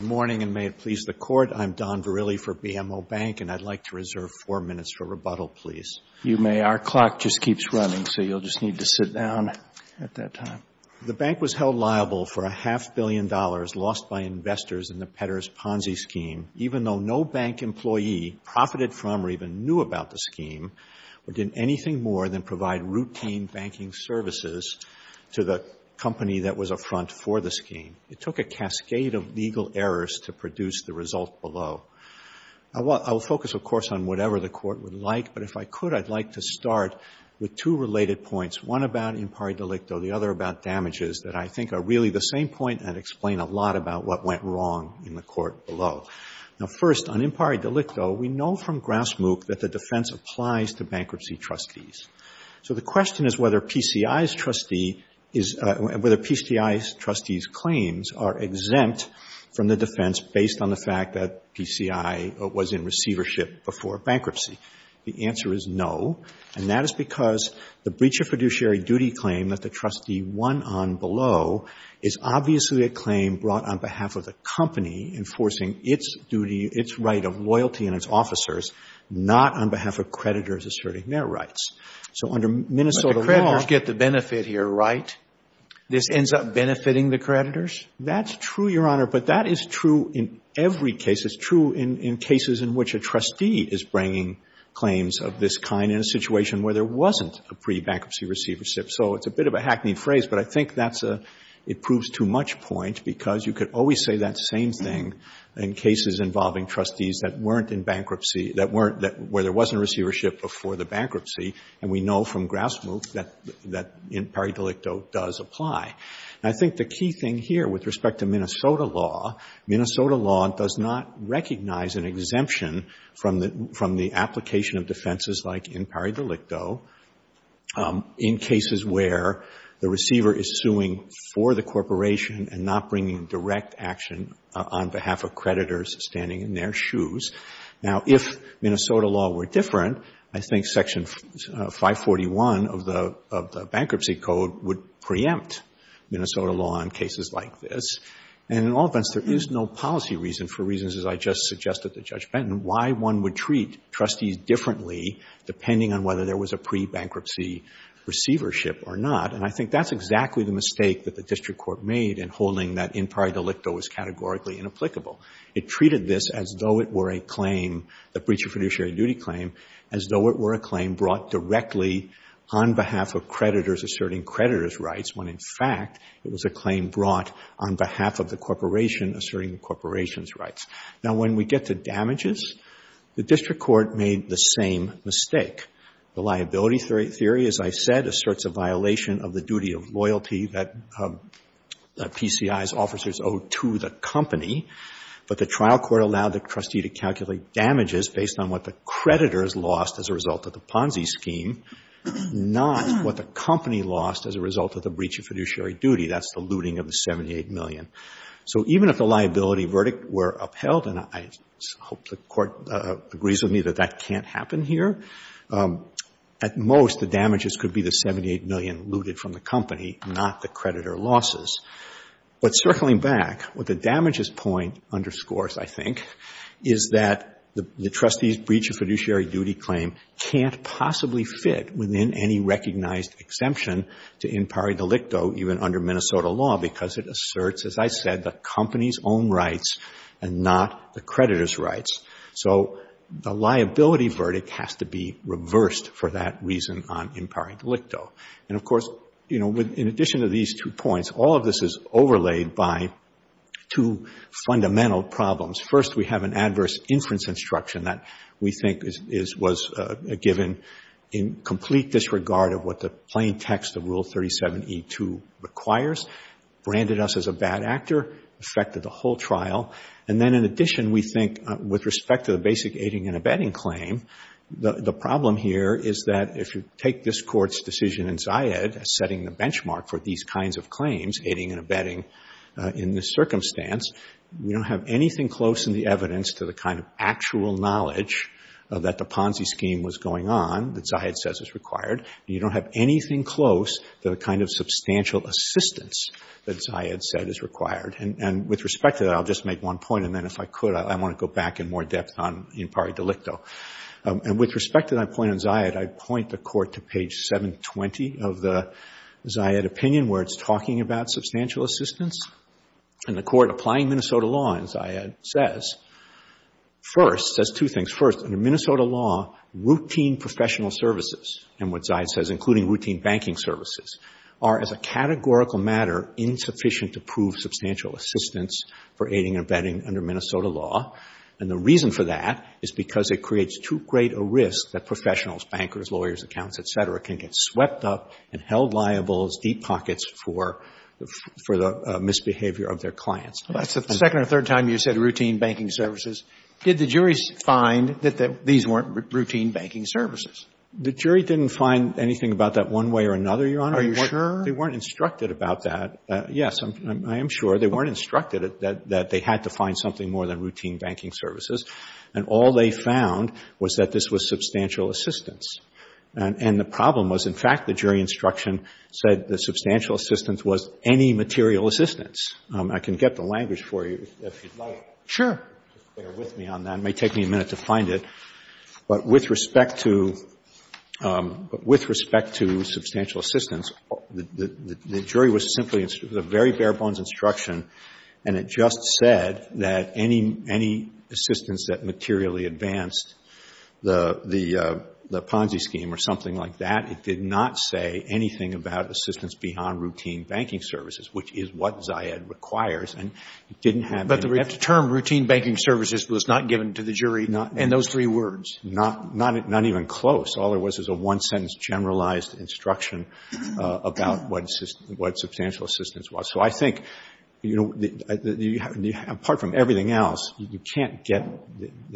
Good morning, and may it please the Court, I'm Don Verrilli for BMO Bank, and I'd like to reserve four minutes for rebuttal, please. You may. Our clock just keeps running, so you'll just need to sit down at that time. The bank was held liable for a half-billion dollars lost by investors in the Petters Ponzi scheme, even though no bank employee profited from or even knew about the scheme or did anything more than provide routine banking services to the company that was a front for the scheme. It took a cascade of legal errors to produce the result below. I will focus, of course, on whatever the Court would like, but if I could, I'd like to start with two related points, one about impari delicto, the other about damages, that I think are really the same point and explain a lot about what went wrong in the Court below. Now, first, on impari delicto, we know from Grasmukh that the defense applies to bankruptcy trustees. So the question is whether PCI's trustee is, whether PCI's trustee's claims are exempt from the defense based on the fact that PCI was in receivership before bankruptcy. The answer is no, and that is because the breach of fiduciary duty claim that the trustee won on below is obviously a claim brought on behalf of the company enforcing its duty, its right of loyalty and its officers, not on behalf of creditors asserting their rights. So under Minnesota law — But the creditors get the benefit here, right? This ends up benefiting the creditors? That's true, Your Honor, but that is true in every case. It's true in cases in which a trustee is bringing claims of this kind in a situation where there wasn't a pre-bankruptcy receivership. So it's a bit of a hackneyed phrase, but I think that's a, it proves too much point because you could always say that same thing in cases involving trustees that weren't in bankruptcy, that weren't, where there wasn't receivership before the bankruptcy, and we know from grassroots that in pari delicto does apply. And I think the key thing here with respect to Minnesota law, Minnesota law does not recognize an exemption from the application of defenses like in pari delicto in cases where the receiver is suing for the corporation and not bringing direct action on behalf of creditors standing in their shoes. Now, if Minnesota law were different, I think Section 541 of the Bankruptcy Code would preempt Minnesota law in cases like this. And in all events, there is no policy reason for reasons, as I just suggested to Judge Benton, why one would treat trustees differently depending on whether there was a pre-bankruptcy receivership or not. And I think that's exactly the mistake that the district court made in holding that in pari delicto was categorically inapplicable. It treated this as though it were a claim, the breach of fiduciary duty claim, as though it were a claim brought directly on behalf of creditors asserting creditors' rights when in fact it was a claim brought on behalf of the corporation asserting the corporation's rights. Now, when we get to damages, the district court made the same mistake. The liability theory, as I said, asserts a violation of the duty of loyalty that PCI's officers owe to the company. But the trial court allowed the trustee to calculate damages based on what the creditors lost as a result of the Ponzi scheme, not what the company lost as a result of the breach of fiduciary duty. That's the looting of the $78 million. So even if the liability verdict were upheld, and I hope the court agrees with me that that can't happen here, at most the damages could be the $78 million looted from the company, not the creditor losses. But circling back, what the damages point underscores, I think, is that the trustee's breach of fiduciary duty claim can't possibly fit within any recognized exemption to in pari delicto, even under Minnesota law, because it asserts, as I said, the company's own rights and not the creditor's rights. So the liability verdict has to be reversed for that reason on in pari delicto. And, of course, you know, in addition to these two points, all of this is overlaid by two fundamental problems. First, we have an adverse inference instruction that we think was given in complete disregard of what the plain text of Rule 37E2 requires, branded us as a bad actor, affected the whole trial. And then, in addition, we think, with respect to the basic aiding and abetting claim, the problem here is that if you take this Court's decision in Zayed as setting the benchmark for these kinds of claims, aiding and abetting in this circumstance, we don't have anything close in the evidence to the kind of actual knowledge that the Ponzi scheme was going on that Zayed says is required. You don't have anything close to the kind of substantial assistance that Zayed said is required. And with respect to that, I'll just make one point, and then if I could, I want to go back in more depth on in pari delicto. And with respect to that point on Zayed, I'd point the Court to page 720 of the Zayed opinion where it's talking about substantial assistance. And the Court applying Minnesota law in Zayed says, first, says two things. First, under Minnesota law, routine professional services, and what Zayed says, including routine banking services, are, as a categorical matter, insufficient to prove substantial assistance for aiding and abetting under Minnesota law. And the reason for that is because it creates too great a risk that professionals, bankers, lawyers, accountants, et cetera, can get swept up and held liable as deep pockets for the misbehavior of their clients. Well, that's the second or third time you've said routine banking services. Did the jury find that these weren't routine banking services? The jury didn't find anything about that one way or another, Your Honor. Are you sure? They weren't instructed about that. Yes, I am sure. They weren't instructed that they had to find something more than routine banking services. And all they found was that this was substantial assistance. And the problem was, in fact, the jury instruction said the substantial assistance was any material assistance. I can get the language for you if you'd like. Sure. Bear with me on that. It may take me a minute to find it. But with respect to substantial assistance, the jury was simply, it was a very bare-bones instruction, and it just said that any assistance that materially advanced the Ponzi scheme or something like that, it did not say anything about assistance beyond routine banking services, which is what Zayed requires. But the term routine banking services was not given to the jury in those three words? Not even close. All there was is a one-sentence generalized instruction about what substantial assistance was. So I think, you know, apart from everything else, you can't get,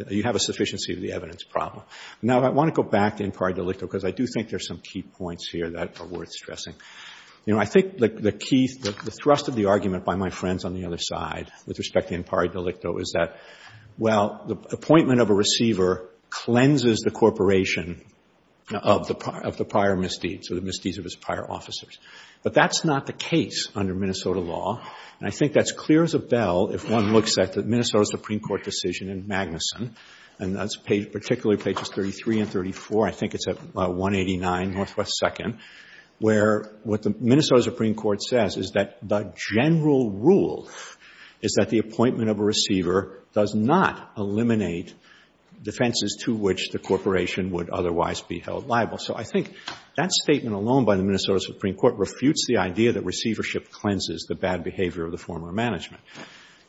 you have a sufficiency of the evidence problem. Now, I want to go back to inquire delicto, because I do think there's some key points here that are worth stressing. You know, I think the key, the thrust of the argument by my friends on the other side with respect to inquire delicto is that, well, the appointment of a receiver cleanses the corporation of the prior misdeeds or the misdeeds of its prior officers. But that's not the case under Minnesota law. And I think that's clear as a bell if one looks at the Minnesota Supreme Court decision in Magnuson, and that's particularly pages 33 and 34. I think it's at 189 Northwest 2nd, where what the Minnesota Supreme Court says is that the general rule is that the appointment of a receiver does not eliminate defenses to which the corporation would otherwise be held liable. So I think that statement alone by the Minnesota Supreme Court refutes the idea that receivership cleanses the bad behavior of the former management.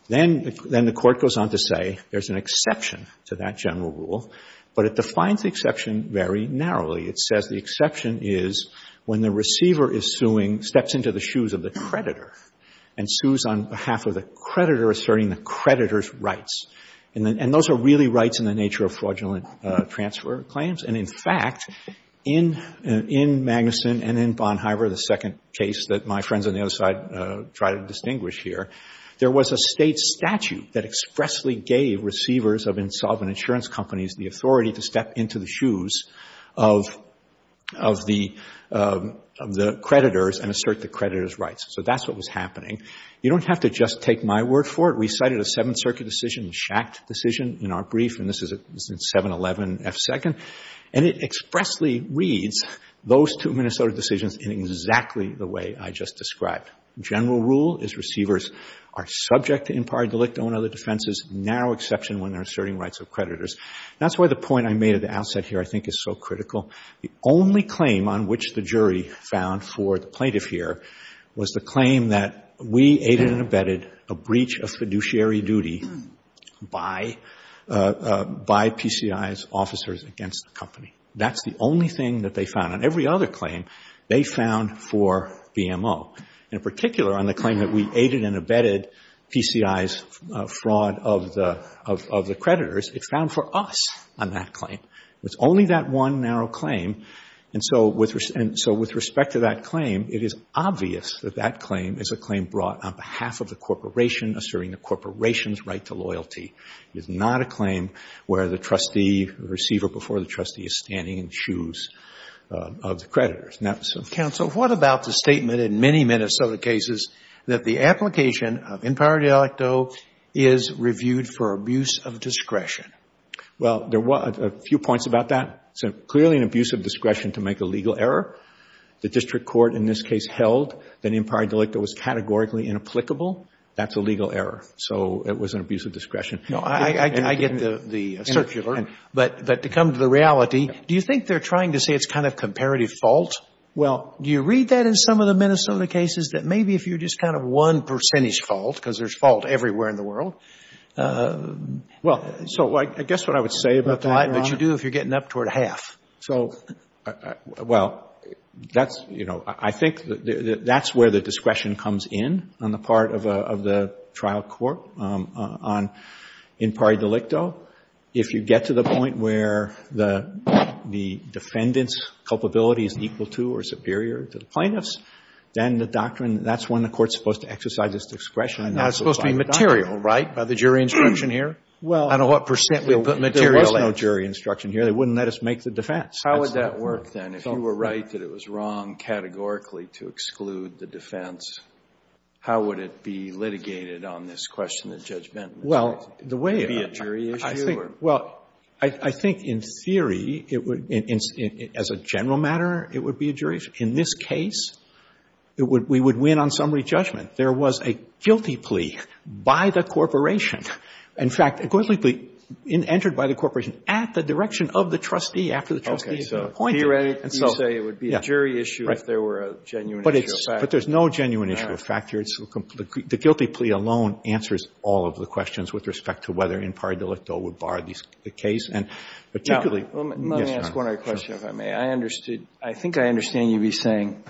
Then the Court goes on to say there's an exception to that general rule, but it defines the exception very narrowly. It says the exception is when the receiver is suing, steps into the shoes of the creditor, and sues on behalf of the creditor, asserting the creditor's rights. And those are really rights in the nature of fraudulent transfer claims. And, in fact, in Magnuson and in Bonn-Hyver, the second case that my friends on the other side try to distinguish here, there was a State statute that expressly gave receivers of insolvent insurance companies the authority to step into the shoes of the creditors and assert the creditors' rights. So that's what was happening. You don't have to just take my word for it. We cited a Seventh Circuit decision, the Schacht decision, in our brief, and this is in 711F2nd. And it expressly reads those two Minnesota decisions in exactly the way I just described. General rule is receivers are subject to impari delicto and other defenses, narrow exception when they're asserting rights of creditors. That's why the point I made at the outset here I think is so critical. The only claim on which the jury found for the plaintiff here was the claim that we aided and abetted a breach of fiduciary duty by PCI's officers against the company. That's the only thing that they found. On every other claim, they found for BMO. In particular, on the claim that we aided and abetted PCI's fraud of the creditors, it's found for us on that claim. It's only that one narrow claim. And so with respect to that claim, it is obvious that that claim is a claim brought on behalf of the corporation, asserting the corporation's right to loyalty. It is not a claim where the trustee, the receiver before the trustee is standing in the shoes of the creditors. Now, so counsel, what about the statement in many Minnesota cases that the application of impari delicto is reviewed for abuse of discretion? Well, there were a few points about that. So clearly an abuse of discretion to make a legal error. The district court in this case held that impari delicto was categorically inapplicable. That's a legal error. So it was an abuse of discretion. No, I get the circular. But to come to the reality, do you think they're trying to say it's kind of comparative fault? Well, do you read that in some of the Minnesota cases that maybe if you just kind of one percentage fault, because there's fault everywhere in the world. Well, so I guess what I would say about that. But you do if you're getting up toward half. So, well, that's, you know, I think that's where the discretion comes in on the part of the trial court on impari delicto. If you get to the point where the defendant's culpability is equal to or superior to the plaintiff's, then the doctrine, that's when the court's supposed to exercise this discretion. And that's supposed to be material, right, by the jury instruction here? Well. I don't know what percent we put material in. There was no jury instruction here. They wouldn't let us make the defense. How would that work then? If you were right that it was wrong categorically to exclude the defense, how would it be litigated on this question of judgment? Well, the way. Would it be a jury issue? Well, I think in theory it would, as a general matter, it would be a jury issue. In this case, we would win on summary judgment. There was a guilty plea by the corporation. In fact, a guilty plea entered by the corporation at the direction of the trustee after the trustee had been appointed. Okay. So theoretically you say it would be a jury issue if there were a genuine issue of factor. But there's no genuine issue of factor. The guilty plea alone answers all of the questions with respect to whether impari delicto would bar the case. And particularly. Let me ask one other question, if I may. I understood. I think I understand you'd be saying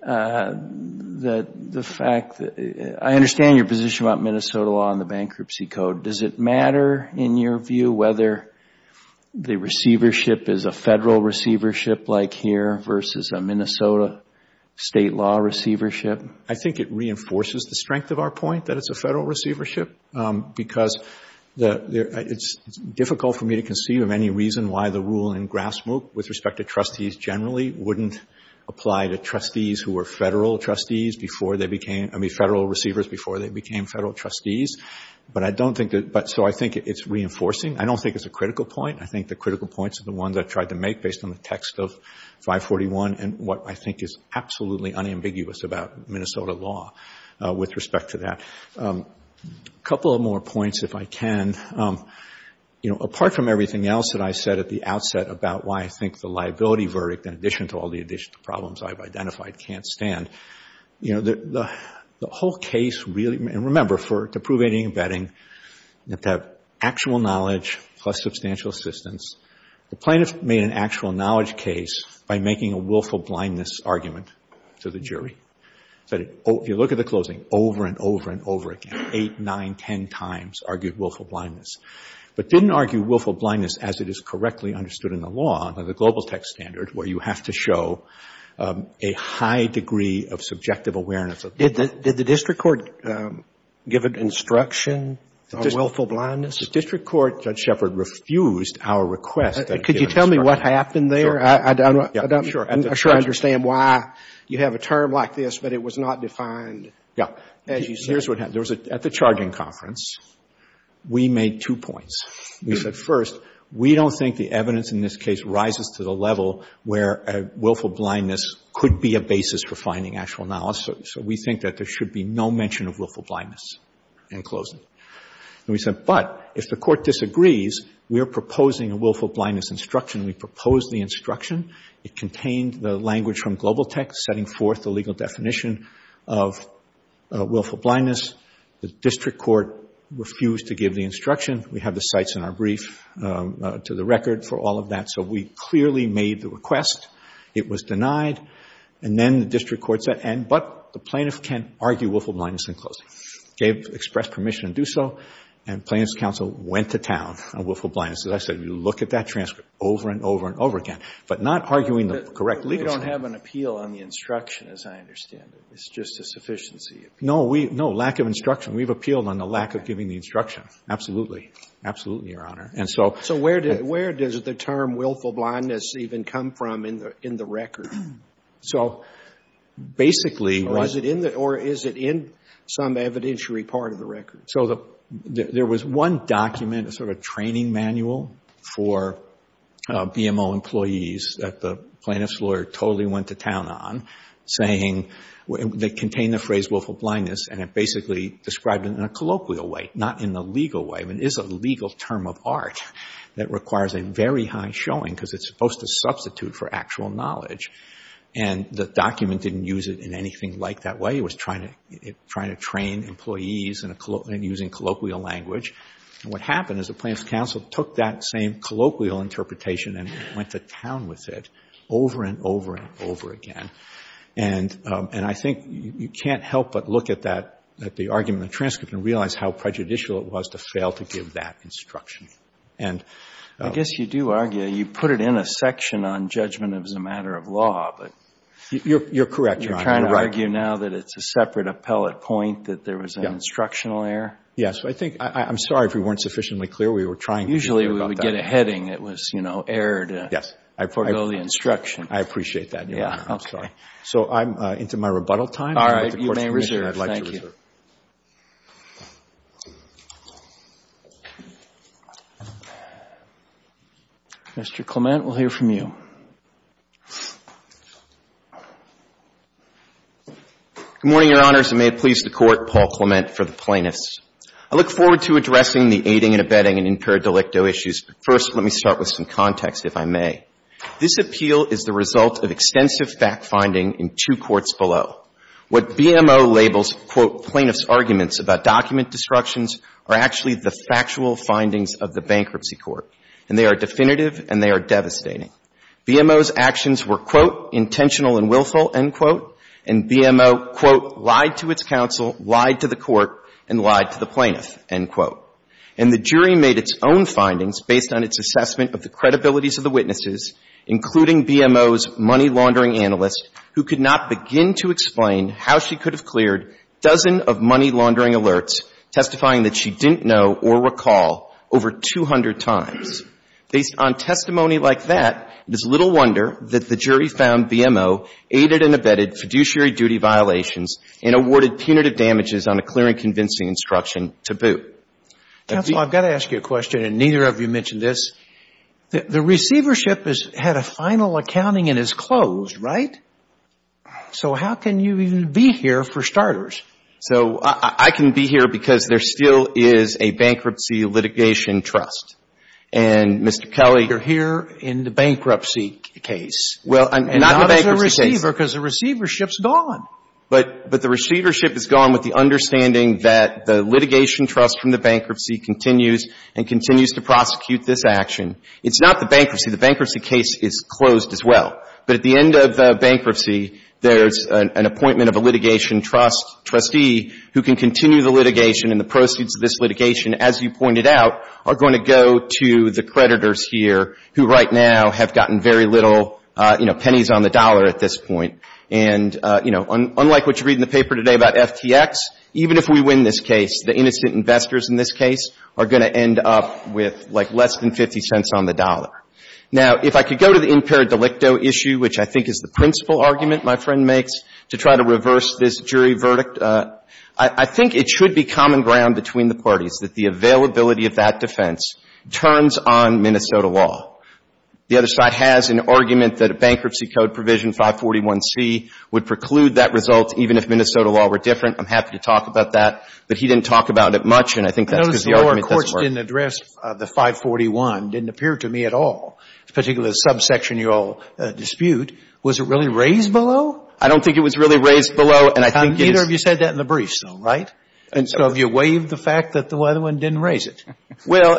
that the fact that. I understand your position about Minnesota law and the bankruptcy code. Does it matter, in your view, whether the receivership is a Federal receivership like here versus a Minnesota state law receivership? I think it reinforces the strength of our point that it's a Federal receivership because it's difficult for me to conceive of any reason why the rule in grass root with respect to trustees generally wouldn't apply to trustees who were Federal trustees before they became, I mean, Federal receivers before they became Federal trustees. But I don't think that. So I think it's reinforcing. I don't think it's a critical point. I think the critical points are the ones I tried to make based on the text of and what I think is absolutely unambiguous about Minnesota law with respect to that. A couple of more points, if I can. You know, apart from everything else that I said at the outset about why I think the liability verdict, in addition to all the additional problems I've identified, can't stand. You know, the whole case really. And remember, to prove any betting, you have to have actual knowledge plus substantial assistance. The plaintiff made an actual knowledge case by making a willful blindness argument to the jury. If you look at the closing, over and over and over again, eight, nine, ten times argued willful blindness. But didn't argue willful blindness as it is correctly understood in the law, under the global text standard, where you have to show a high degree of subjective awareness. Did the district court give an instruction on willful blindness? The district court, Judge Shepard, refused our request. Could you tell me what happened there? I don't understand why you have a term like this, but it was not defined. Yeah. Here's what happened. At the charging conference, we made two points. We said, first, we don't think the evidence in this case rises to the level where a willful blindness could be a basis for finding actual knowledge. So we think that there should be no mention of willful blindness in closing. We said, but if the court disagrees, we are proposing a willful blindness instruction. We proposed the instruction. It contained the language from global text, setting forth the legal definition of willful blindness. The district court refused to give the instruction. We have the cites in our brief to the record for all of that. So we clearly made the request. It was denied. And then the district court said, but the plaintiff can't argue willful blindness in closing. Gave express permission to do so. And plaintiff's counsel went to town on willful blindness. As I said, we looked at that transcript over and over and over again, but not arguing the correct legal system. We don't have an appeal on the instruction, as I understand it. It's just a sufficiency appeal. No, lack of instruction. We've appealed on the lack of giving the instruction. Absolutely. Absolutely, Your Honor. So where does the term willful blindness even come from in the record? So basically. Or is it in some evidentiary part of the record? So there was one document, a sort of training manual, for BMO employees that the plaintiff's lawyer totally went to town on, saying they contained the phrase willful blindness, and it basically described it in a colloquial way, not in the legal way. I mean, it is a legal term of art that requires a very high showing, because it's supposed to substitute for actual knowledge. And the document didn't use it in anything like that way. It was trying to train employees and using colloquial language. And what happened is the plaintiff's counsel took that same colloquial interpretation and went to town with it over and over and over again. And I think you can't help but look at the argument in the transcript and realize how prejudicial it was to fail to give that instruction. I guess you do argue you put it in a section on judgment as a matter of law. You're correct, Your Honor. You're trying to argue now that it's a separate appellate point, that there was an instructional error? Yes. I'm sorry if we weren't sufficiently clear. We were trying to be clear about that. Usually we would get a heading. It was, you know, error to forego the instruction. I appreciate that, Your Honor. So into my rebuttal time. All right. You may reserve. Thank you. Mr. Clement, we'll hear from you. Good morning, Your Honors, and may it please the Court, Paul Clement for the plaintiffs. I look forward to addressing the aiding and abetting and impaired delicto issues, but first let me start with some context, if I may. This appeal is the result of extensive fact-finding in two courts below. What BMO labels, quote, plaintiff's arguments about document destructions are actually the factual findings of the bankruptcy court, and they are definitive and they are devastating. BMO's actions were, quote, intentional and willful, end quote, and BMO, quote, lied to its counsel, lied to the court, and lied to the plaintiff, end quote. And the jury made its own findings based on its assessment of the credibilities of the witnesses, including BMO's money laundering analyst, who could not begin to explain how she could have cleared dozen of money laundering alerts, testifying that she didn't know or recall over 200 times. Based on testimony like that, it is little wonder that the jury found BMO aided and abetted fiduciary duty violations and awarded punitive damages on a clear and convincing instruction to boot. Counsel, I've got to ask you a question, and neither of you mentioned this. The receivership has had a final accounting and is closed, right? So how can you even be here, for starters? So I can be here because there still is a bankruptcy litigation trust. And, Mr. Kelly, you're here in the bankruptcy case. Well, I'm not in the bankruptcy case. And not as a receiver, because the receivership's gone. But the receivership is gone with the understanding that the litigation trust from this action, it's not the bankruptcy. The bankruptcy case is closed as well. But at the end of bankruptcy, there's an appointment of a litigation trust, trustee, who can continue the litigation and the proceeds of this litigation, as you pointed out, are going to go to the creditors here, who right now have gotten very little, you know, pennies on the dollar at this point. And, you know, unlike what you read in the paper today about FTX, even if we win this Now, if I could go to the impaired delicto issue, which I think is the principal argument my friend makes to try to reverse this jury verdict, I think it should be common ground between the parties that the availability of that defense turns on Minnesota law. The other side has an argument that a bankruptcy code provision, 541C, would preclude that result even if Minnesota law were different. I'm happy to talk about that. But he didn't talk about it much, and I think that's because the argument doesn't work. The argument that says the 541 didn't appear to me at all, particularly the subsection you all dispute, was it really raised below? I don't think it was really raised below, and I think it's Neither of you said that in the briefs, though, right? And so have you waived the fact that the other one didn't raise it? Well,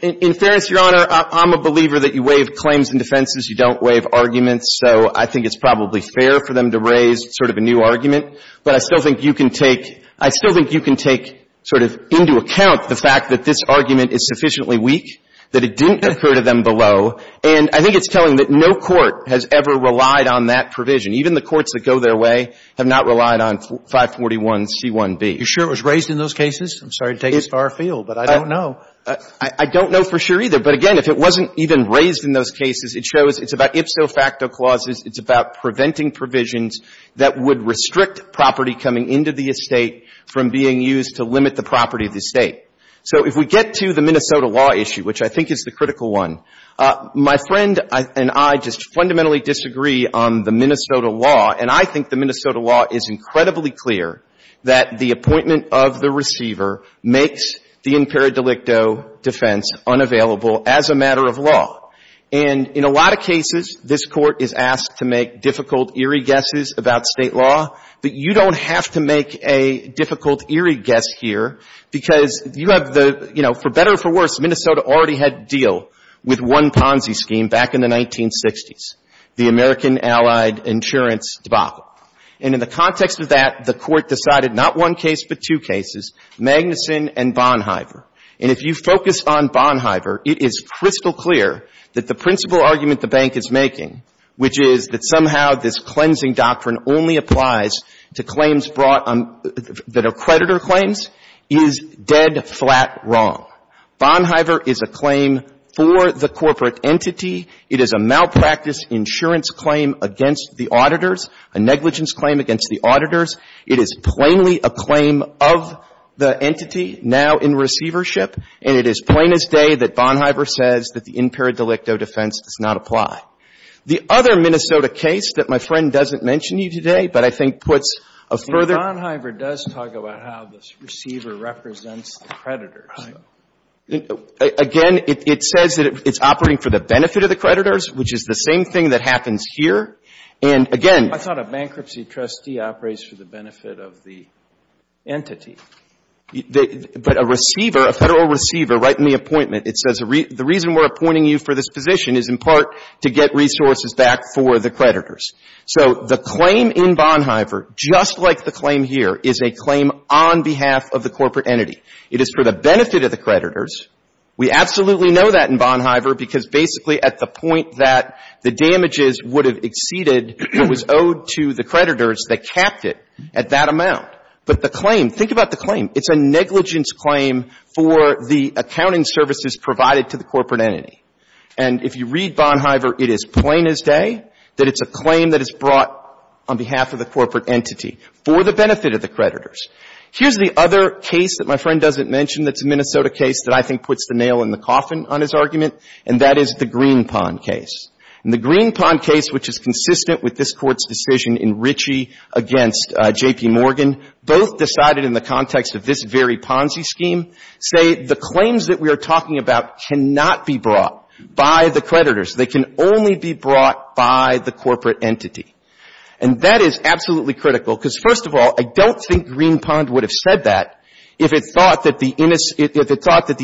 in fairness, Your Honor, I'm a believer that you waive claims and defenses. You don't waive arguments. So I think it's probably fair for them to raise sort of a new argument. But I still think you can take — I still think you can take sort of into account the fact that this argument is sufficiently weak, that it didn't occur to them below. And I think it's telling that no court has ever relied on that provision. Even the courts that go their way have not relied on 541C1B. You're sure it was raised in those cases? I'm sorry to take a star field, but I don't know. I don't know for sure either. But again, if it wasn't even raised in those cases, it shows it's about ipso facto clauses, it's about preventing provisions that would restrict property coming into the estate from being used to limit the property of the estate. So if we get to the Minnesota law issue, which I think is the critical one, my friend and I just fundamentally disagree on the Minnesota law. And I think the Minnesota law is incredibly clear that the appointment of the receiver makes the impera delicto defense unavailable as a matter of law. And in a lot of cases, this Court is asked to make difficult, eerie guesses about state law, but you don't have to make a difficult, eerie guess here because you have the, you know, for better or for worse, Minnesota already had a deal with one Ponzi scheme back in the 1960s, the American allied insurance debacle. And in the context of that, the Court decided not one case but two cases, Magnuson and Bonhiever. And if you focus on Bonhiever, it is crystal clear that the principal argument the bank is making, which is that somehow this cleansing doctrine only applies to claims brought on, that are creditor claims, is dead flat wrong. Bonhiever is a claim for the corporate entity. It is a malpractice insurance claim against the auditors, a negligence claim against the auditors. It is plainly a claim of the entity now in receivership, and it is plain as day that other Minnesota case that my friend doesn't mention to you today, but I think puts a further ---- And Bonhiever does talk about how this receiver represents the creditors. Again, it says that it's operating for the benefit of the creditors, which is the same thing that happens here. And again ---- I thought a bankruptcy trustee operates for the benefit of the entity. But a receiver, a Federal receiver, right in the appointment, it says the reason we're appointing you for this position is in part to get resources back for the creditors. So the claim in Bonhiever, just like the claim here, is a claim on behalf of the corporate entity. It is for the benefit of the creditors. We absolutely know that in Bonhiever, because basically at the point that the damages would have exceeded, it was owed to the creditors that capped it at that amount. But the claim, think about the claim. It's a negligence claim for the accounting services provided to the corporate entity. And if you read Bonhiever, it is plain as day that it's a claim that is brought on behalf of the corporate entity for the benefit of the creditors. Here's the other case that my friend doesn't mention that's a Minnesota case that I think puts the nail in the coffin on his argument, and that is the Greenpond case. And the Greenpond case, which is consistent with this Court's decision in Ritchie against J.P. Morgan, both decided in the context of this very Ponzi scheme, say the claims that we are talking about cannot be brought by the creditors. They can only be brought by the corporate entity. And that is absolutely critical, because, first of all, I don't think Greenpond would have said that if it thought that the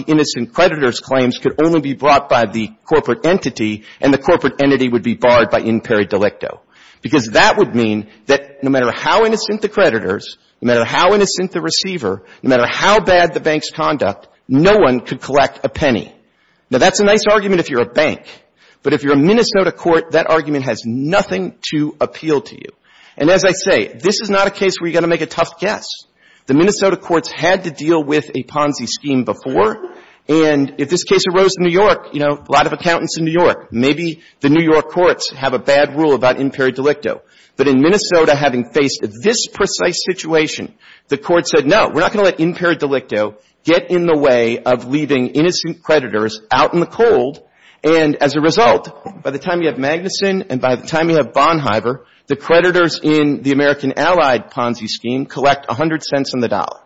innocent creditor's claims could only be brought by the corporate entity and the corporate entity would be barred by in peri delicto. Because that would mean that no matter how innocent the creditors, no matter how innocent the receiver, no matter how bad the bank's conduct, no one could collect a penny. Now, that's a nice argument if you're a bank. But if you're a Minnesota court, that argument has nothing to appeal to you. And as I say, this is not a case where you're going to make a tough guess. The Minnesota courts had to deal with a Ponzi scheme before. And if this case arose in New York, you know, a lot of accountants in New York, maybe the New York courts have a bad rule about in peri delicto. But in Minnesota, having faced this precise situation, the court said, no, we're not going to let in peri delicto get in the way of leaving innocent creditors out in the cold. And as a result, by the time you have Magnuson and by the time you have Bonhiever, the creditors in the American allied Ponzi scheme collect 100 cents on the dollar.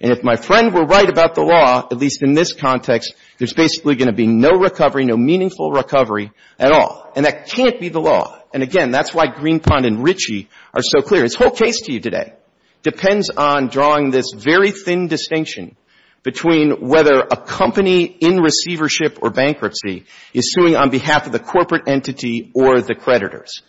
And if my friend were right about the law, at least in this context, there's basically going to be no recovery, no meaningful recovery at all. And that can't be the law. And, again, that's why Greenpond and Ritchie are so clear. This whole case to you today depends on drawing this very thin distinction between whether a company in receivership or bankruptcy is suing on behalf of the corporate entity or the creditors.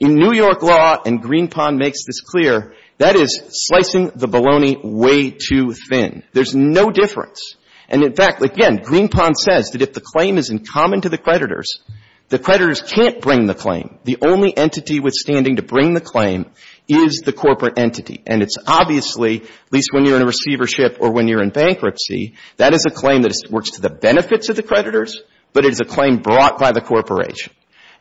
In New York law, and Greenpond makes this clear, that is slicing the bologna way too thin. There's no difference. And, in fact, again, Greenpond says that if the claim is in common to the creditors, the creditors can't bring the claim. The only entity withstanding to bring the claim is the corporate entity. And it's obviously, at least when you're in receivership or when you're in bankruptcy, that is a claim that works to the benefits of the creditors, but it is a claim brought by the corporation.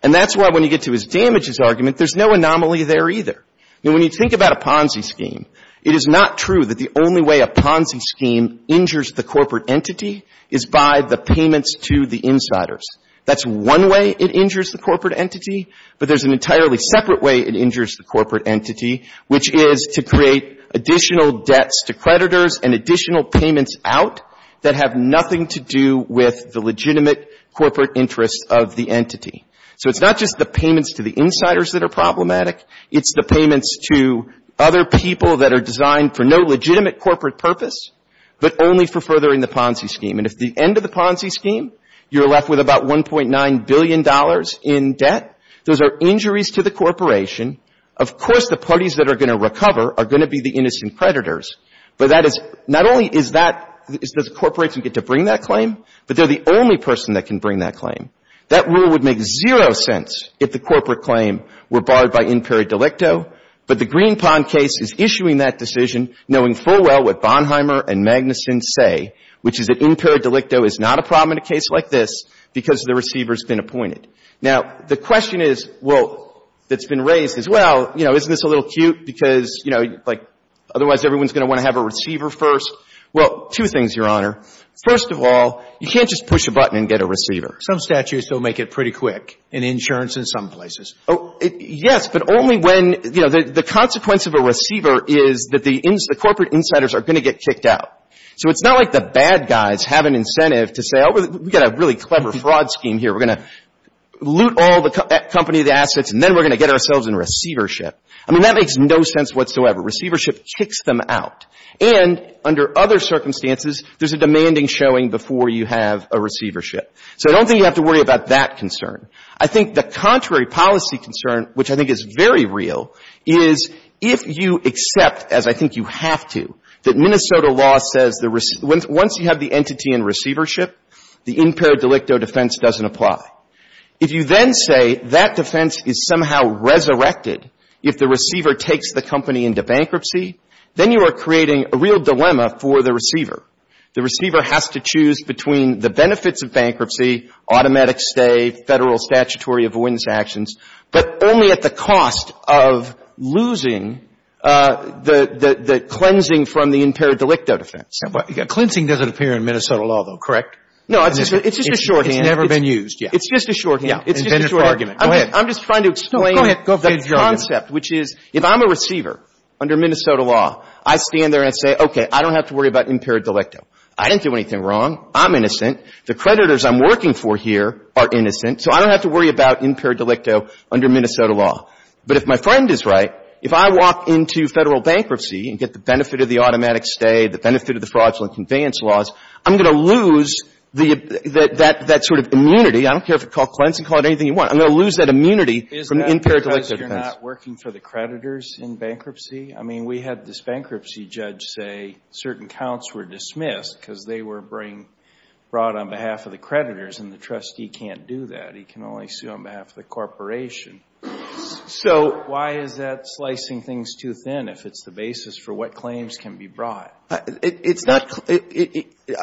And that's why when you get to his damages argument, there's no anomaly there either. When you think about a Ponzi scheme, it is not true that the only way a Ponzi scheme injures the corporate entity is by the payments to the insiders. That's one way it injures the corporate entity, but there's an entirely separate way it injures the corporate entity, which is to create additional debts to creditors and additional payments out that have nothing to do with the legitimate corporate interests of the entity. So it's not just the payments to the insiders that are problematic. It's the payments to other people that are designed for no legitimate corporate purpose, but only for furthering the Ponzi scheme. And at the end of the Ponzi scheme, you're left with about $1.9 billion in debt. Those are injuries to the corporation. Of course, the parties that are going to recover are going to be the innocent creditors, but that is not only is that the corporation get to bring that claim, but they're the only person that can bring that claim. That rule would make zero sense if the corporate claim were barred by imperi delicto, but the Greenpond case is issuing that decision knowing full well what Bonheimer and Magnuson say, which is that imperi delicto is not a problem in a case like this because the receiver's been appointed. Now, the question is, well, that's been raised is, well, you know, isn't this a little cute because, you know, like otherwise everyone's going to want to have a receiver first? Well, two things, Your Honor. First of all, you can't just push a button and get a receiver. Some statutes will make it pretty quick in insurance in some places. Yes, but only when, you know, the consequence of a receiver is that the corporate insiders are going to get kicked out. So it's not like the bad guys have an incentive to say, oh, we've got a really clever fraud scheme here. We're going to loot all the company, the assets, and then we're going to get ourselves in receivership. I mean, that makes no sense whatsoever. Receivership kicks them out. And under other circumstances, there's a demanding showing before you have a receivership. So I don't think you have to worry about that concern. I think the contrary policy concern, which I think is very real, is if you accept, as I think you have to, that Minnesota law says once you have the entity in receivership, the imper delicto defense doesn't apply. If you then say that defense is somehow resurrected if the receiver takes the company into bankruptcy, then you are creating a real dilemma for the receiver. The receiver has to choose between the benefits of bankruptcy, automatic stay, Federal statutory avoidance actions, but only at the cost of losing the cleansing from the imper delicto defense. Cleansing doesn't appear in Minnesota law, though, correct? No, it's just a shorthand. It's never been used. It's just a shorthand. It's just a shorthand. Go ahead. I'm just trying to explain the concept, which is if I'm a receiver under Minnesota law, I stand there and say, okay, I don't have to worry about imper delicto. I didn't do anything wrong. I'm innocent. The creditors I'm working for here are innocent, so I don't have to worry about imper delicto under Minnesota law. But if my friend is right, if I walk into Federal bankruptcy and get the benefit of the automatic stay, the benefit of the fraudulent conveyance laws, I'm going to lose that sort of immunity. I don't care if you call it cleansing. Call it anything you want. I'm going to lose that immunity from imper delicto defense. Isn't that working for the creditors in bankruptcy? I mean, we had this bankruptcy judge say certain counts were dismissed because they were brought on behalf of the creditors, and the trustee can't do that. He can only sue on behalf of the corporation. So why is that slicing things too thin if it's the basis for what claims can be brought? It's not — I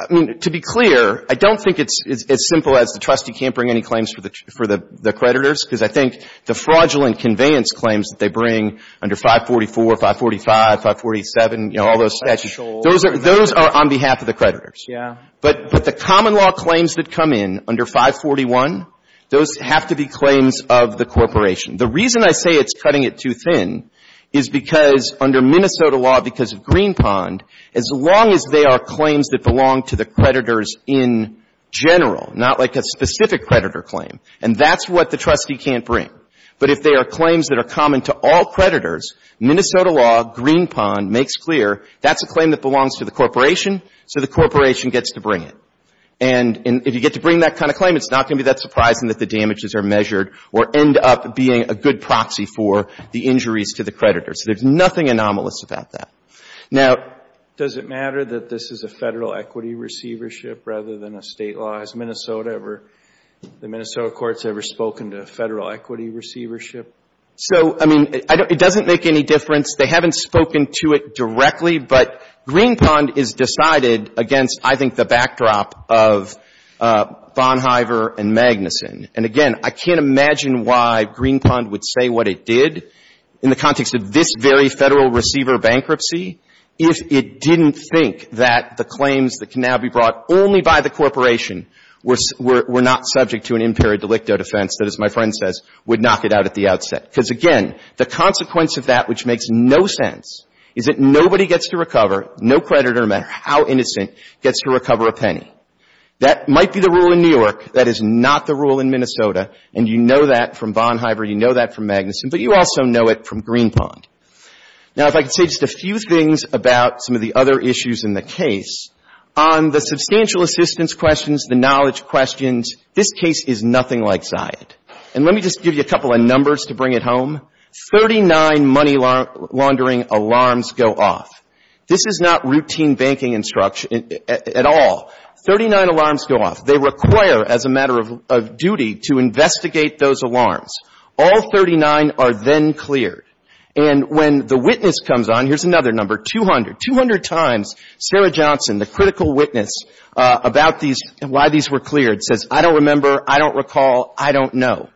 mean, to be clear, I don't think it's as simple as the trustee can't bring claims for the creditors, because I think the fraudulent conveyance claims that they bring under 544, 545, 547, you know, all those statutes, those are on behalf of the creditors. Yeah. But the common law claims that come in under 541, those have to be claims of the corporation. The reason I say it's cutting it too thin is because under Minnesota law, because of Greenpond, as long as they are claims that belong to the creditors in general, not like a specific creditor claim, and that's what the trustee can't bring. But if they are claims that are common to all creditors, Minnesota law, Greenpond makes clear that's a claim that belongs to the corporation, so the corporation gets to bring it. And if you get to bring that kind of claim, it's not going to be that surprising that the damages are measured or end up being a good proxy for the injuries to the creditors. There's nothing anomalous about that. Now, does it matter that this is a Federal equity receivership rather than a State law? Has Minnesota ever, the Minnesota courts ever spoken to Federal equity receivership? So, I mean, it doesn't make any difference. They haven't spoken to it directly, but Greenpond is decided against, I think, the backdrop of Bonhiever and Magnuson. And, again, I can't imagine why Greenpond would say what it did in the context of this very Federal receiver bankruptcy if it didn't think that the claims that can now be brought only by the corporation were not subject to an imperio delicto defense that, as my friend says, would knock it out at the outset. Because, again, the consequence of that, which makes no sense, is that nobody gets to recover, no creditor, no matter how innocent, gets to recover a penny. That might be the rule in New York. That is not the rule in Minnesota. And you know that from Bonhiever. You know that from Magnuson. But you also know it from Greenpond. Now, if I could say just a few things about some of the other issues in the case. On the substantial assistance questions, the knowledge questions, this case is nothing like Zayed. And let me just give you a couple of numbers to bring it home. Thirty-nine money laundering alarms go off. This is not routine banking instruction at all. Thirty-nine alarms go off. They require, as a matter of duty, to investigate those alarms. All 39 are then cleared. And when the witness comes on, here's another number, 200. Two hundred times, Sarah Johnson, the critical witness about these and why these were cleared, says, I don't remember, I don't recall, I don't know.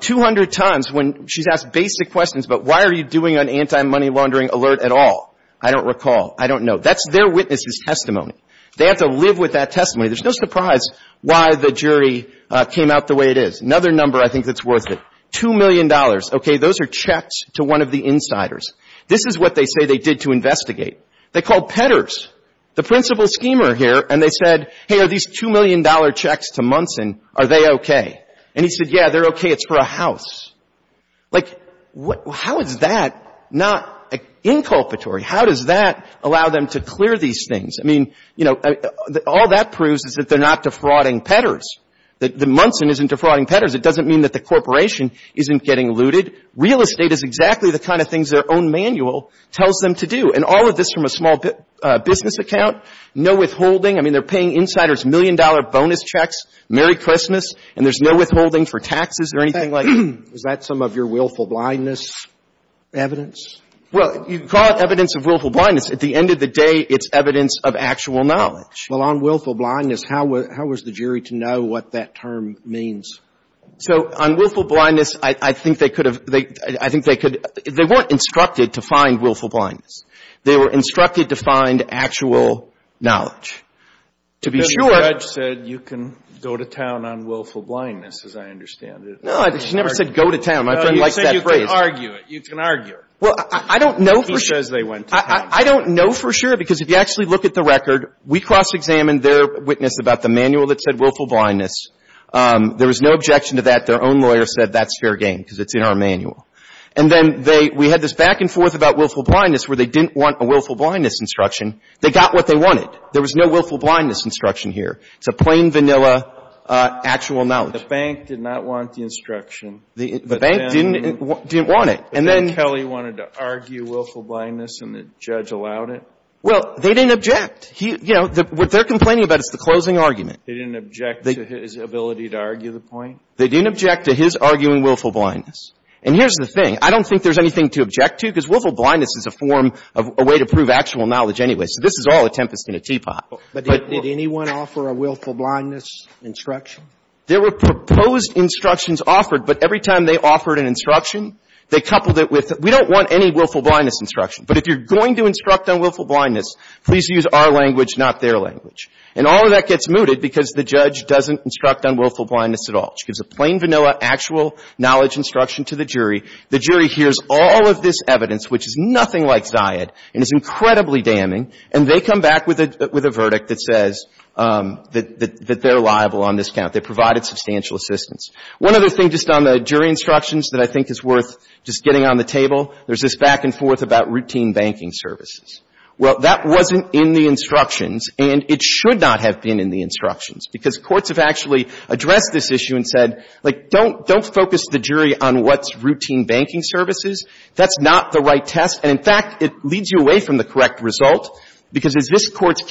Two hundred times when she's asked basic questions about why are you doing an anti-money laundering alert at all, I don't recall, I don't know. That's their witness's testimony. They have to live with that testimony. There's no surprise why the jury came out the way it is. Another number I think that's worth it. $2 million. Okay. Those are checks to one of the insiders. This is what they say they did to investigate. They called Pedders, the principal schemer here, and they said, hey, are these $2 million checks to Munson, are they okay? And he said, yeah, they're okay. It's for a house. Like, how is that not inculpatory? How does that allow them to clear these things? I mean, you know, all that proves is that they're not defrauding Pedders, that Munson isn't defrauding Pedders. It doesn't mean that the corporation isn't getting looted. Real estate is exactly the kind of things their own manual tells them to do. And all of this from a small business account, no withholding. I mean, they're paying insiders $1 million bonus checks, Merry Christmas, and there's no withholding for taxes or anything like that. Is that some of your willful blindness evidence? Well, you can call it evidence of willful blindness. At the end of the day, it's evidence of actual knowledge. Well, on willful blindness, how was the jury to know what that term means? So on willful blindness, I think they could have, I think they could, they weren't instructed to find willful blindness. They were instructed to find actual knowledge. To be sure. The judge said you can go to town on willful blindness, as I understand it. No, she never said go to town. No, you said you could argue it. You can argue it. Well, I don't know for sure. He says they went to town. I don't know for sure, because if you actually look at the record, we cross-examined their witness about the manual that said willful blindness. There was no objection to that. Their own lawyer said that's fair game because it's in our manual. And then they, we had this back and forth about willful blindness where they didn't want a willful blindness instruction. They got what they wanted. There was no willful blindness instruction here. It's a plain, vanilla, actual knowledge. The bank did not want the instruction. The bank didn't want it. But then Kelly wanted to argue willful blindness and the judge allowed it? Well, they didn't object. You know, what they're complaining about is the closing argument. They didn't object to his ability to argue the point? They didn't object to his arguing willful blindness. And here's the thing. I don't think there's anything to object to, because willful blindness is a form of a way to prove actual knowledge anyway. So this is all a tempest in a teapot. But did anyone offer a willful blindness instruction? There were proposed instructions offered, but every time they offered an instruction, they coupled it with we don't want any willful blindness instruction. But if you're going to instruct on willful blindness, please use our language, not their language. And all of that gets mooted because the judge doesn't instruct on willful blindness at all. She gives a plain, vanilla, actual knowledge instruction to the jury. The jury hears all of this evidence, which is nothing like Zayed and is incredibly damning, and they come back with a verdict that says that they're liable on this They provided substantial assistance. One other thing just on the jury instructions that I think is worth just getting on the table, there's this back and forth about routine banking services. Well, that wasn't in the instructions, and it should not have been in the instructions, because courts have actually addressed this issue and said, like, don't focus the jury on what's routine banking services. That's not the right test. And, in fact, it leads you away from the correct result, because as this Court's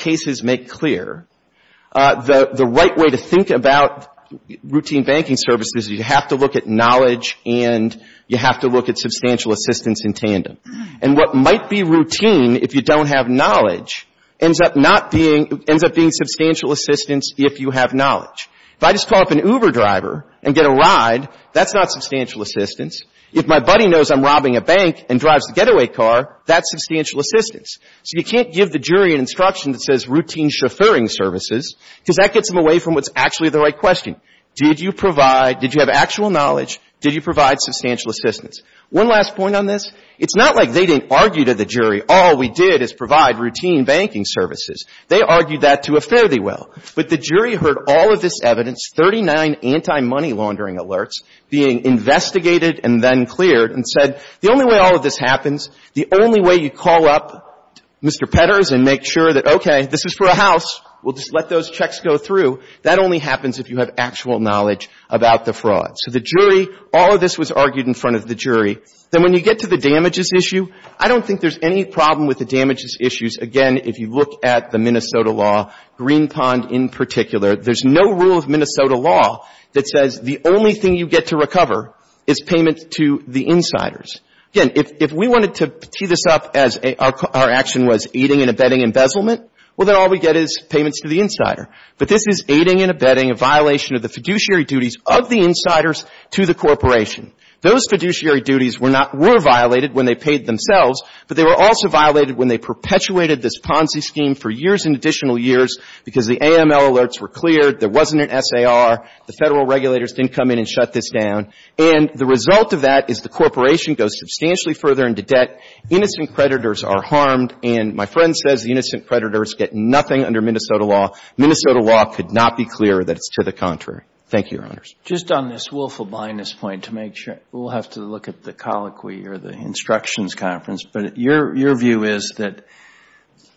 routine banking services, you have to look at knowledge and you have to look at substantial assistance in tandem. And what might be routine if you don't have knowledge ends up not being — ends up being substantial assistance if you have knowledge. If I just call up an Uber driver and get a ride, that's not substantial assistance. If my buddy knows I'm robbing a bank and drives the getaway car, that's substantial assistance. So you can't give the jury an instruction that says routine chauffeuring services because that gets them away from what's actually the right question. Did you provide — did you have actual knowledge? Did you provide substantial assistance? One last point on this. It's not like they didn't argue to the jury, all we did is provide routine banking services. They argued that to a fairly well. But the jury heard all of this evidence, 39 anti-money laundering alerts, being investigated and then cleared and said, the only way all of this happens, the only way you call up Mr. Petters and make sure that, okay, this is for a house, we'll just let those checks go through, that only happens if you have actual knowledge about the fraud. So the jury, all of this was argued in front of the jury. Then when you get to the damages issue, I don't think there's any problem with the damages issues. Again, if you look at the Minnesota law, Green Pond in particular, there's no rule of Minnesota law that says the only thing you get to recover is payment to the insiders. Again, if we wanted to tee this up as our action was aiding and abetting embezzlement, well, then all we get is payments to the insider. But this is aiding and abetting a violation of the fiduciary duties of the insiders to the corporation. Those fiduciary duties were not — were violated when they paid themselves, but they were also violated when they perpetuated this Ponzi scheme for years and additional years because the AML alerts were cleared, there wasn't an SAR, the Federal regulators didn't come in and shut this down. And the result of that is the corporation goes substantially further into debt, innocent creditors are harmed, and my friend says the innocent creditors get nothing under Minnesota law. Minnesota law could not be clearer that it's to the contrary. Thank you, Your Honors. Just on this willful blindness point to make sure, we'll have to look at the colloquy or the instructions conference. But your view is that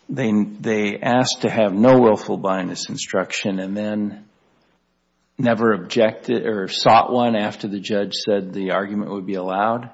they asked to have no willful blindness instruction and then never objected or sought one after the judge said the argument would be allowed?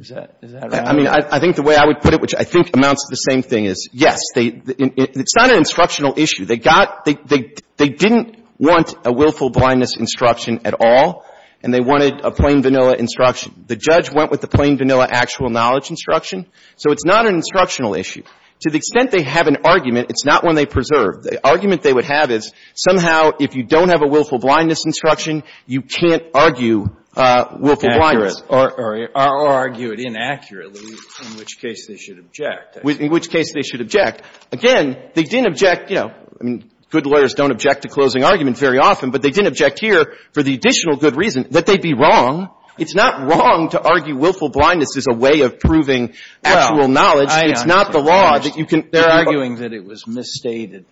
Is that right? I mean, I think the way I would put it, which I think amounts to the same thing, is yes, they — it's not an instructional issue. They got — they didn't want a willful blindness instruction at all, and they wanted a plain vanilla instruction. The judge went with the plain vanilla actual knowledge instruction, so it's not an instructional issue. To the extent they have an argument, it's not one they preserve. The argument they would have is somehow if you don't have a willful blindness instruction, you can't argue willful blindness. Or argue it inaccurately, in which case they should object. In which case they should object. Again, they didn't object, you know, good lawyers don't object to closing arguments very often, but they didn't object here for the additional good reason that they'd be wrong. It's not wrong to argue willful blindness is a way of proving actual knowledge. It's not the law that you can — They're arguing that it was misstated,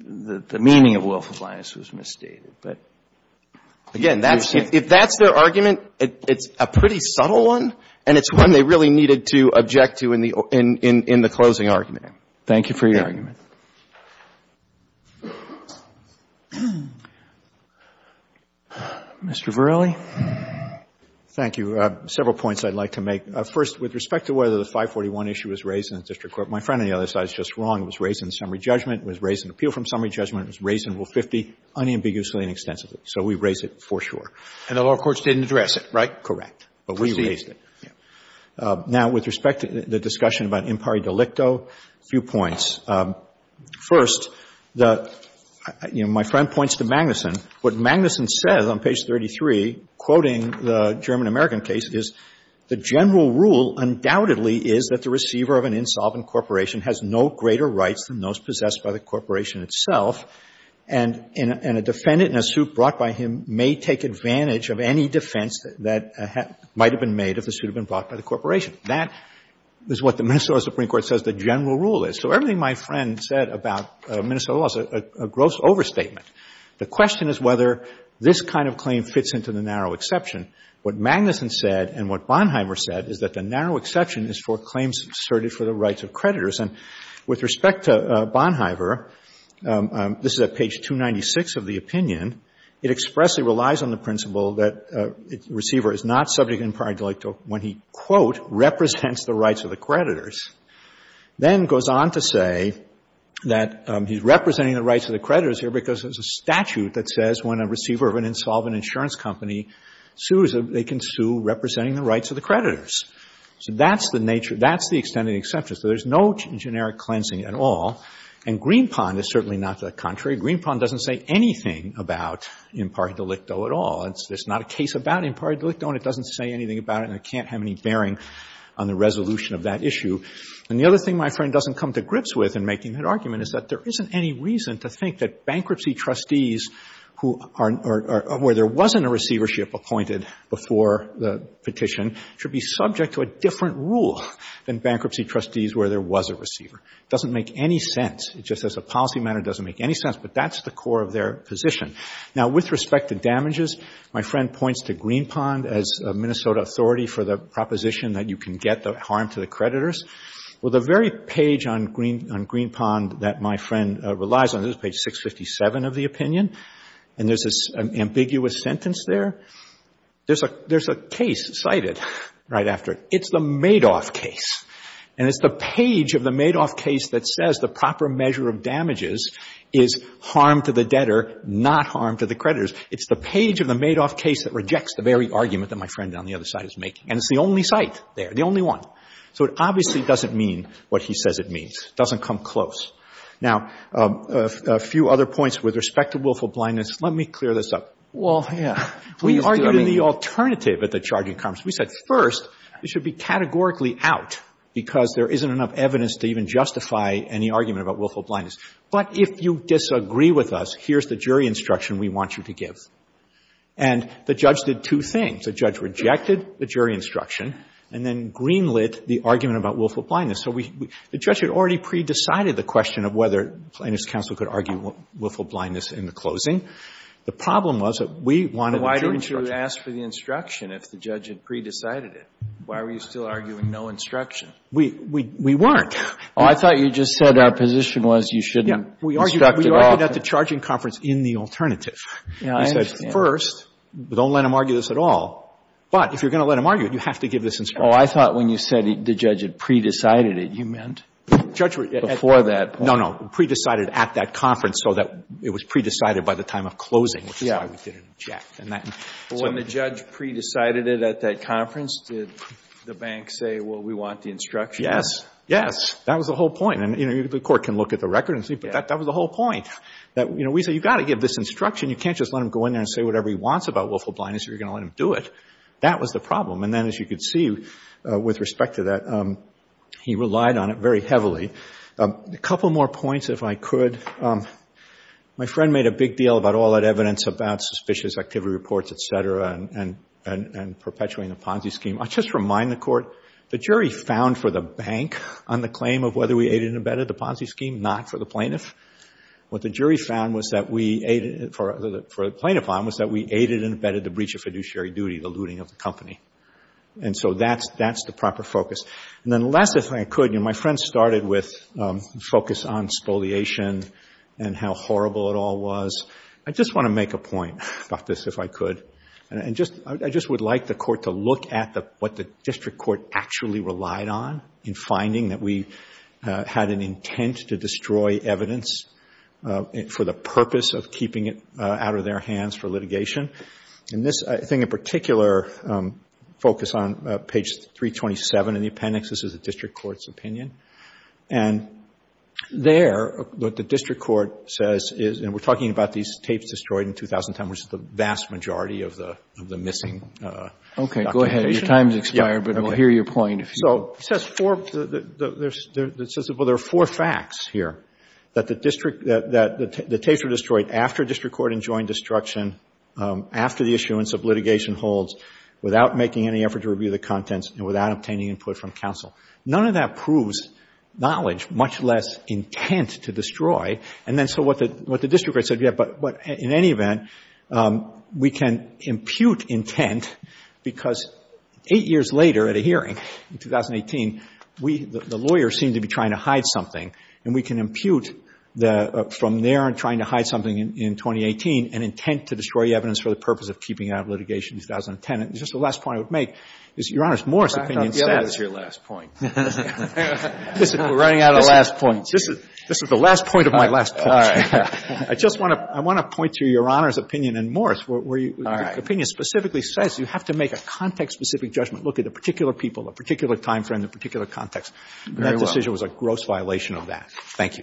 that the meaning of willful blindness was misstated. But again, that's — if that's their argument, it's a pretty subtle one, and it's one they really needed to object to in the — in the closing argument. Thank you for your argument. Mr. Verrilli. Thank you. Several points I'd like to make. First, with respect to whether the 541 issue was raised in the district court, my friend on the other side is just wrong. It was raised in summary judgment. It was raised in appeal from summary judgment. It was raised in Rule 50 unambiguously and extensively. So we raised it for sure. And the lower courts didn't address it, right? Correct. But we raised it. Yeah. Now, with respect to the discussion about impari delicto, a few points. First, the — you know, my friend points to Magnuson. What Magnuson says on page 33, quoting the German-American case, is, The general rule undoubtedly is that the receiver of an insolvent corporation has no greater rights than those possessed by the corporation itself, and a defendant in a suit brought by him may take advantage of any defense that might have been made if the suit had been brought by the corporation. That is what the Minnesota Supreme Court says the general rule is. So everything my friend said about Minnesota law is a gross overstatement. The question is whether this kind of claim fits into the narrow exception. What Magnuson said and what Bonhiever said is that the narrow exception is for claims asserted for the rights of creditors. And with respect to Bonhiever, this is at page 296 of the opinion. It expressly relies on the principle that the receiver is not subject to impari delicto when he, quote, represents the rights of the creditors. Then goes on to say that he's representing the rights of the creditors here because there's a statute that says when a receiver of an insolvent insurance company sues, they can sue representing the rights of the creditors. So that's the nature, that's the extent of the exception. So there's no generic cleansing at all. And Greenpond is certainly not the contrary. Greenpond doesn't say anything about impari delicto at all. There's not a case about impari delicto, and it doesn't say anything about it, and it can't have any bearing on the resolution of that issue. And the other thing my friend doesn't come to grips with in making that argument is that there isn't any reason to think that bankruptcy trustees who are or where there wasn't a receivership appointed before the petition should be subject to a different rule than bankruptcy trustees where there was a receiver. It doesn't make any sense. Just as a policy matter, it doesn't make any sense. But that's the core of their position. Now, with respect to damages, my friend points to Greenpond as a Minnesota authority for the proposition that you can get the harm to the creditors. Well, the very page on Greenpond that my friend relies on is page 657 of the opinion. And there's this ambiguous sentence there. There's a case cited right after it. It's the Madoff case. And it's the page of the Madoff case that says the proper measure of damages is harm to the debtor, not harm to the creditors. It's the page of the Madoff case that rejects the very argument that my friend on the other side is making. And it's the only cite there, the only one. So it obviously doesn't mean what he says it means. It doesn't come close. Now, a few other points with respect to willful blindness. Let me clear this up. We argued in the alternative at the charging conference. We said, first, it should be categorically out because there isn't enough evidence to even justify any argument about willful blindness. But if you disagree with us, here's the jury instruction we want you to give. And the judge did two things. The judge rejected the jury instruction and then green-lit the argument about willful blindness. So we — the judge had already pre-decided the question of whether plaintiff's counsel could argue willful blindness in the closing. The problem was that we wanted the jury instruction. So why didn't you ask for the instruction if the judge had pre-decided it? Why were you still arguing no instruction? We weren't. Oh, I thought you just said our position was you shouldn't instruct it often. We argued at the charging conference in the alternative. Yeah, I understand. First, don't let them argue this at all. But if you're going to let them argue it, you have to give this instruction. Oh, I thought when you said the judge had pre-decided it, you meant before that point. No, no. Pre-decided at that conference so that it was pre-decided by the time of closing, which is why we didn't object. Yeah. When the judge pre-decided it at that conference, did the bank say, well, we want the instruction? Yes. Yes. That was the whole point. And, you know, the Court can look at the record and see, but that was the whole point. We say, you've got to give this instruction. You can't just let him go in there and say whatever he wants about willful blindness. You're going to let him do it. That was the problem. And then, as you can see, with respect to that, he relied on it very heavily. A couple more points, if I could. My friend made a big deal about all that evidence about suspicious activity reports, et cetera, and perpetuating the Ponzi scheme. I'll just remind the Court, the jury found for the bank on the claim of whether we aided or abetted the Ponzi scheme, not for the plaintiff. What the jury found for the plaintiff on was that we aided and abetted the breach of fiduciary duty, the looting of the company. And so that's the proper focus. And then last, if I could, you know, my friend started with a focus on spoliation and how horrible it all was. I just want to make a point about this, if I could. And I just would like the Court to look at what the district court actually relied on in finding that we had an intent to destroy evidence for the purpose of keeping it out of their hands for litigation. And this, I think, in particular, focus on page 327 in the appendix. This is the district court's opinion. And there, what the district court says is, and we're talking about these tapes destroyed in 2010, which is the vast majority of the missing documentation. Go ahead. Your time has expired, but we'll hear your point. So it says four, well, there are four facts here, that the tapes were destroyed after district court enjoined destruction, after the issuance of litigation holds, without making any effort to review the contents, and without obtaining input from counsel. None of that proves knowledge, much less intent to destroy. And then so what the district court said, yeah, but in any event, we can impute intent because eight years later at a hearing in 2018, we, the lawyers, seem to be trying to hide something. And we can impute the, from there and trying to hide something in 2018, an intent to destroy evidence for the purpose of keeping it out of litigation in 2010. And just the last point I would make is Your Honor's Morris opinion says. Back on the other is your last point. We're running out of last points. This is the last point of my last point. All right. I just want to, I want to point to Your Honor's opinion and Morris. All right. My opinion specifically says you have to make a context-specific judgment. Look at the particular people, the particular time frame, the particular context. Very well. That decision was a gross violation of that. Thank you.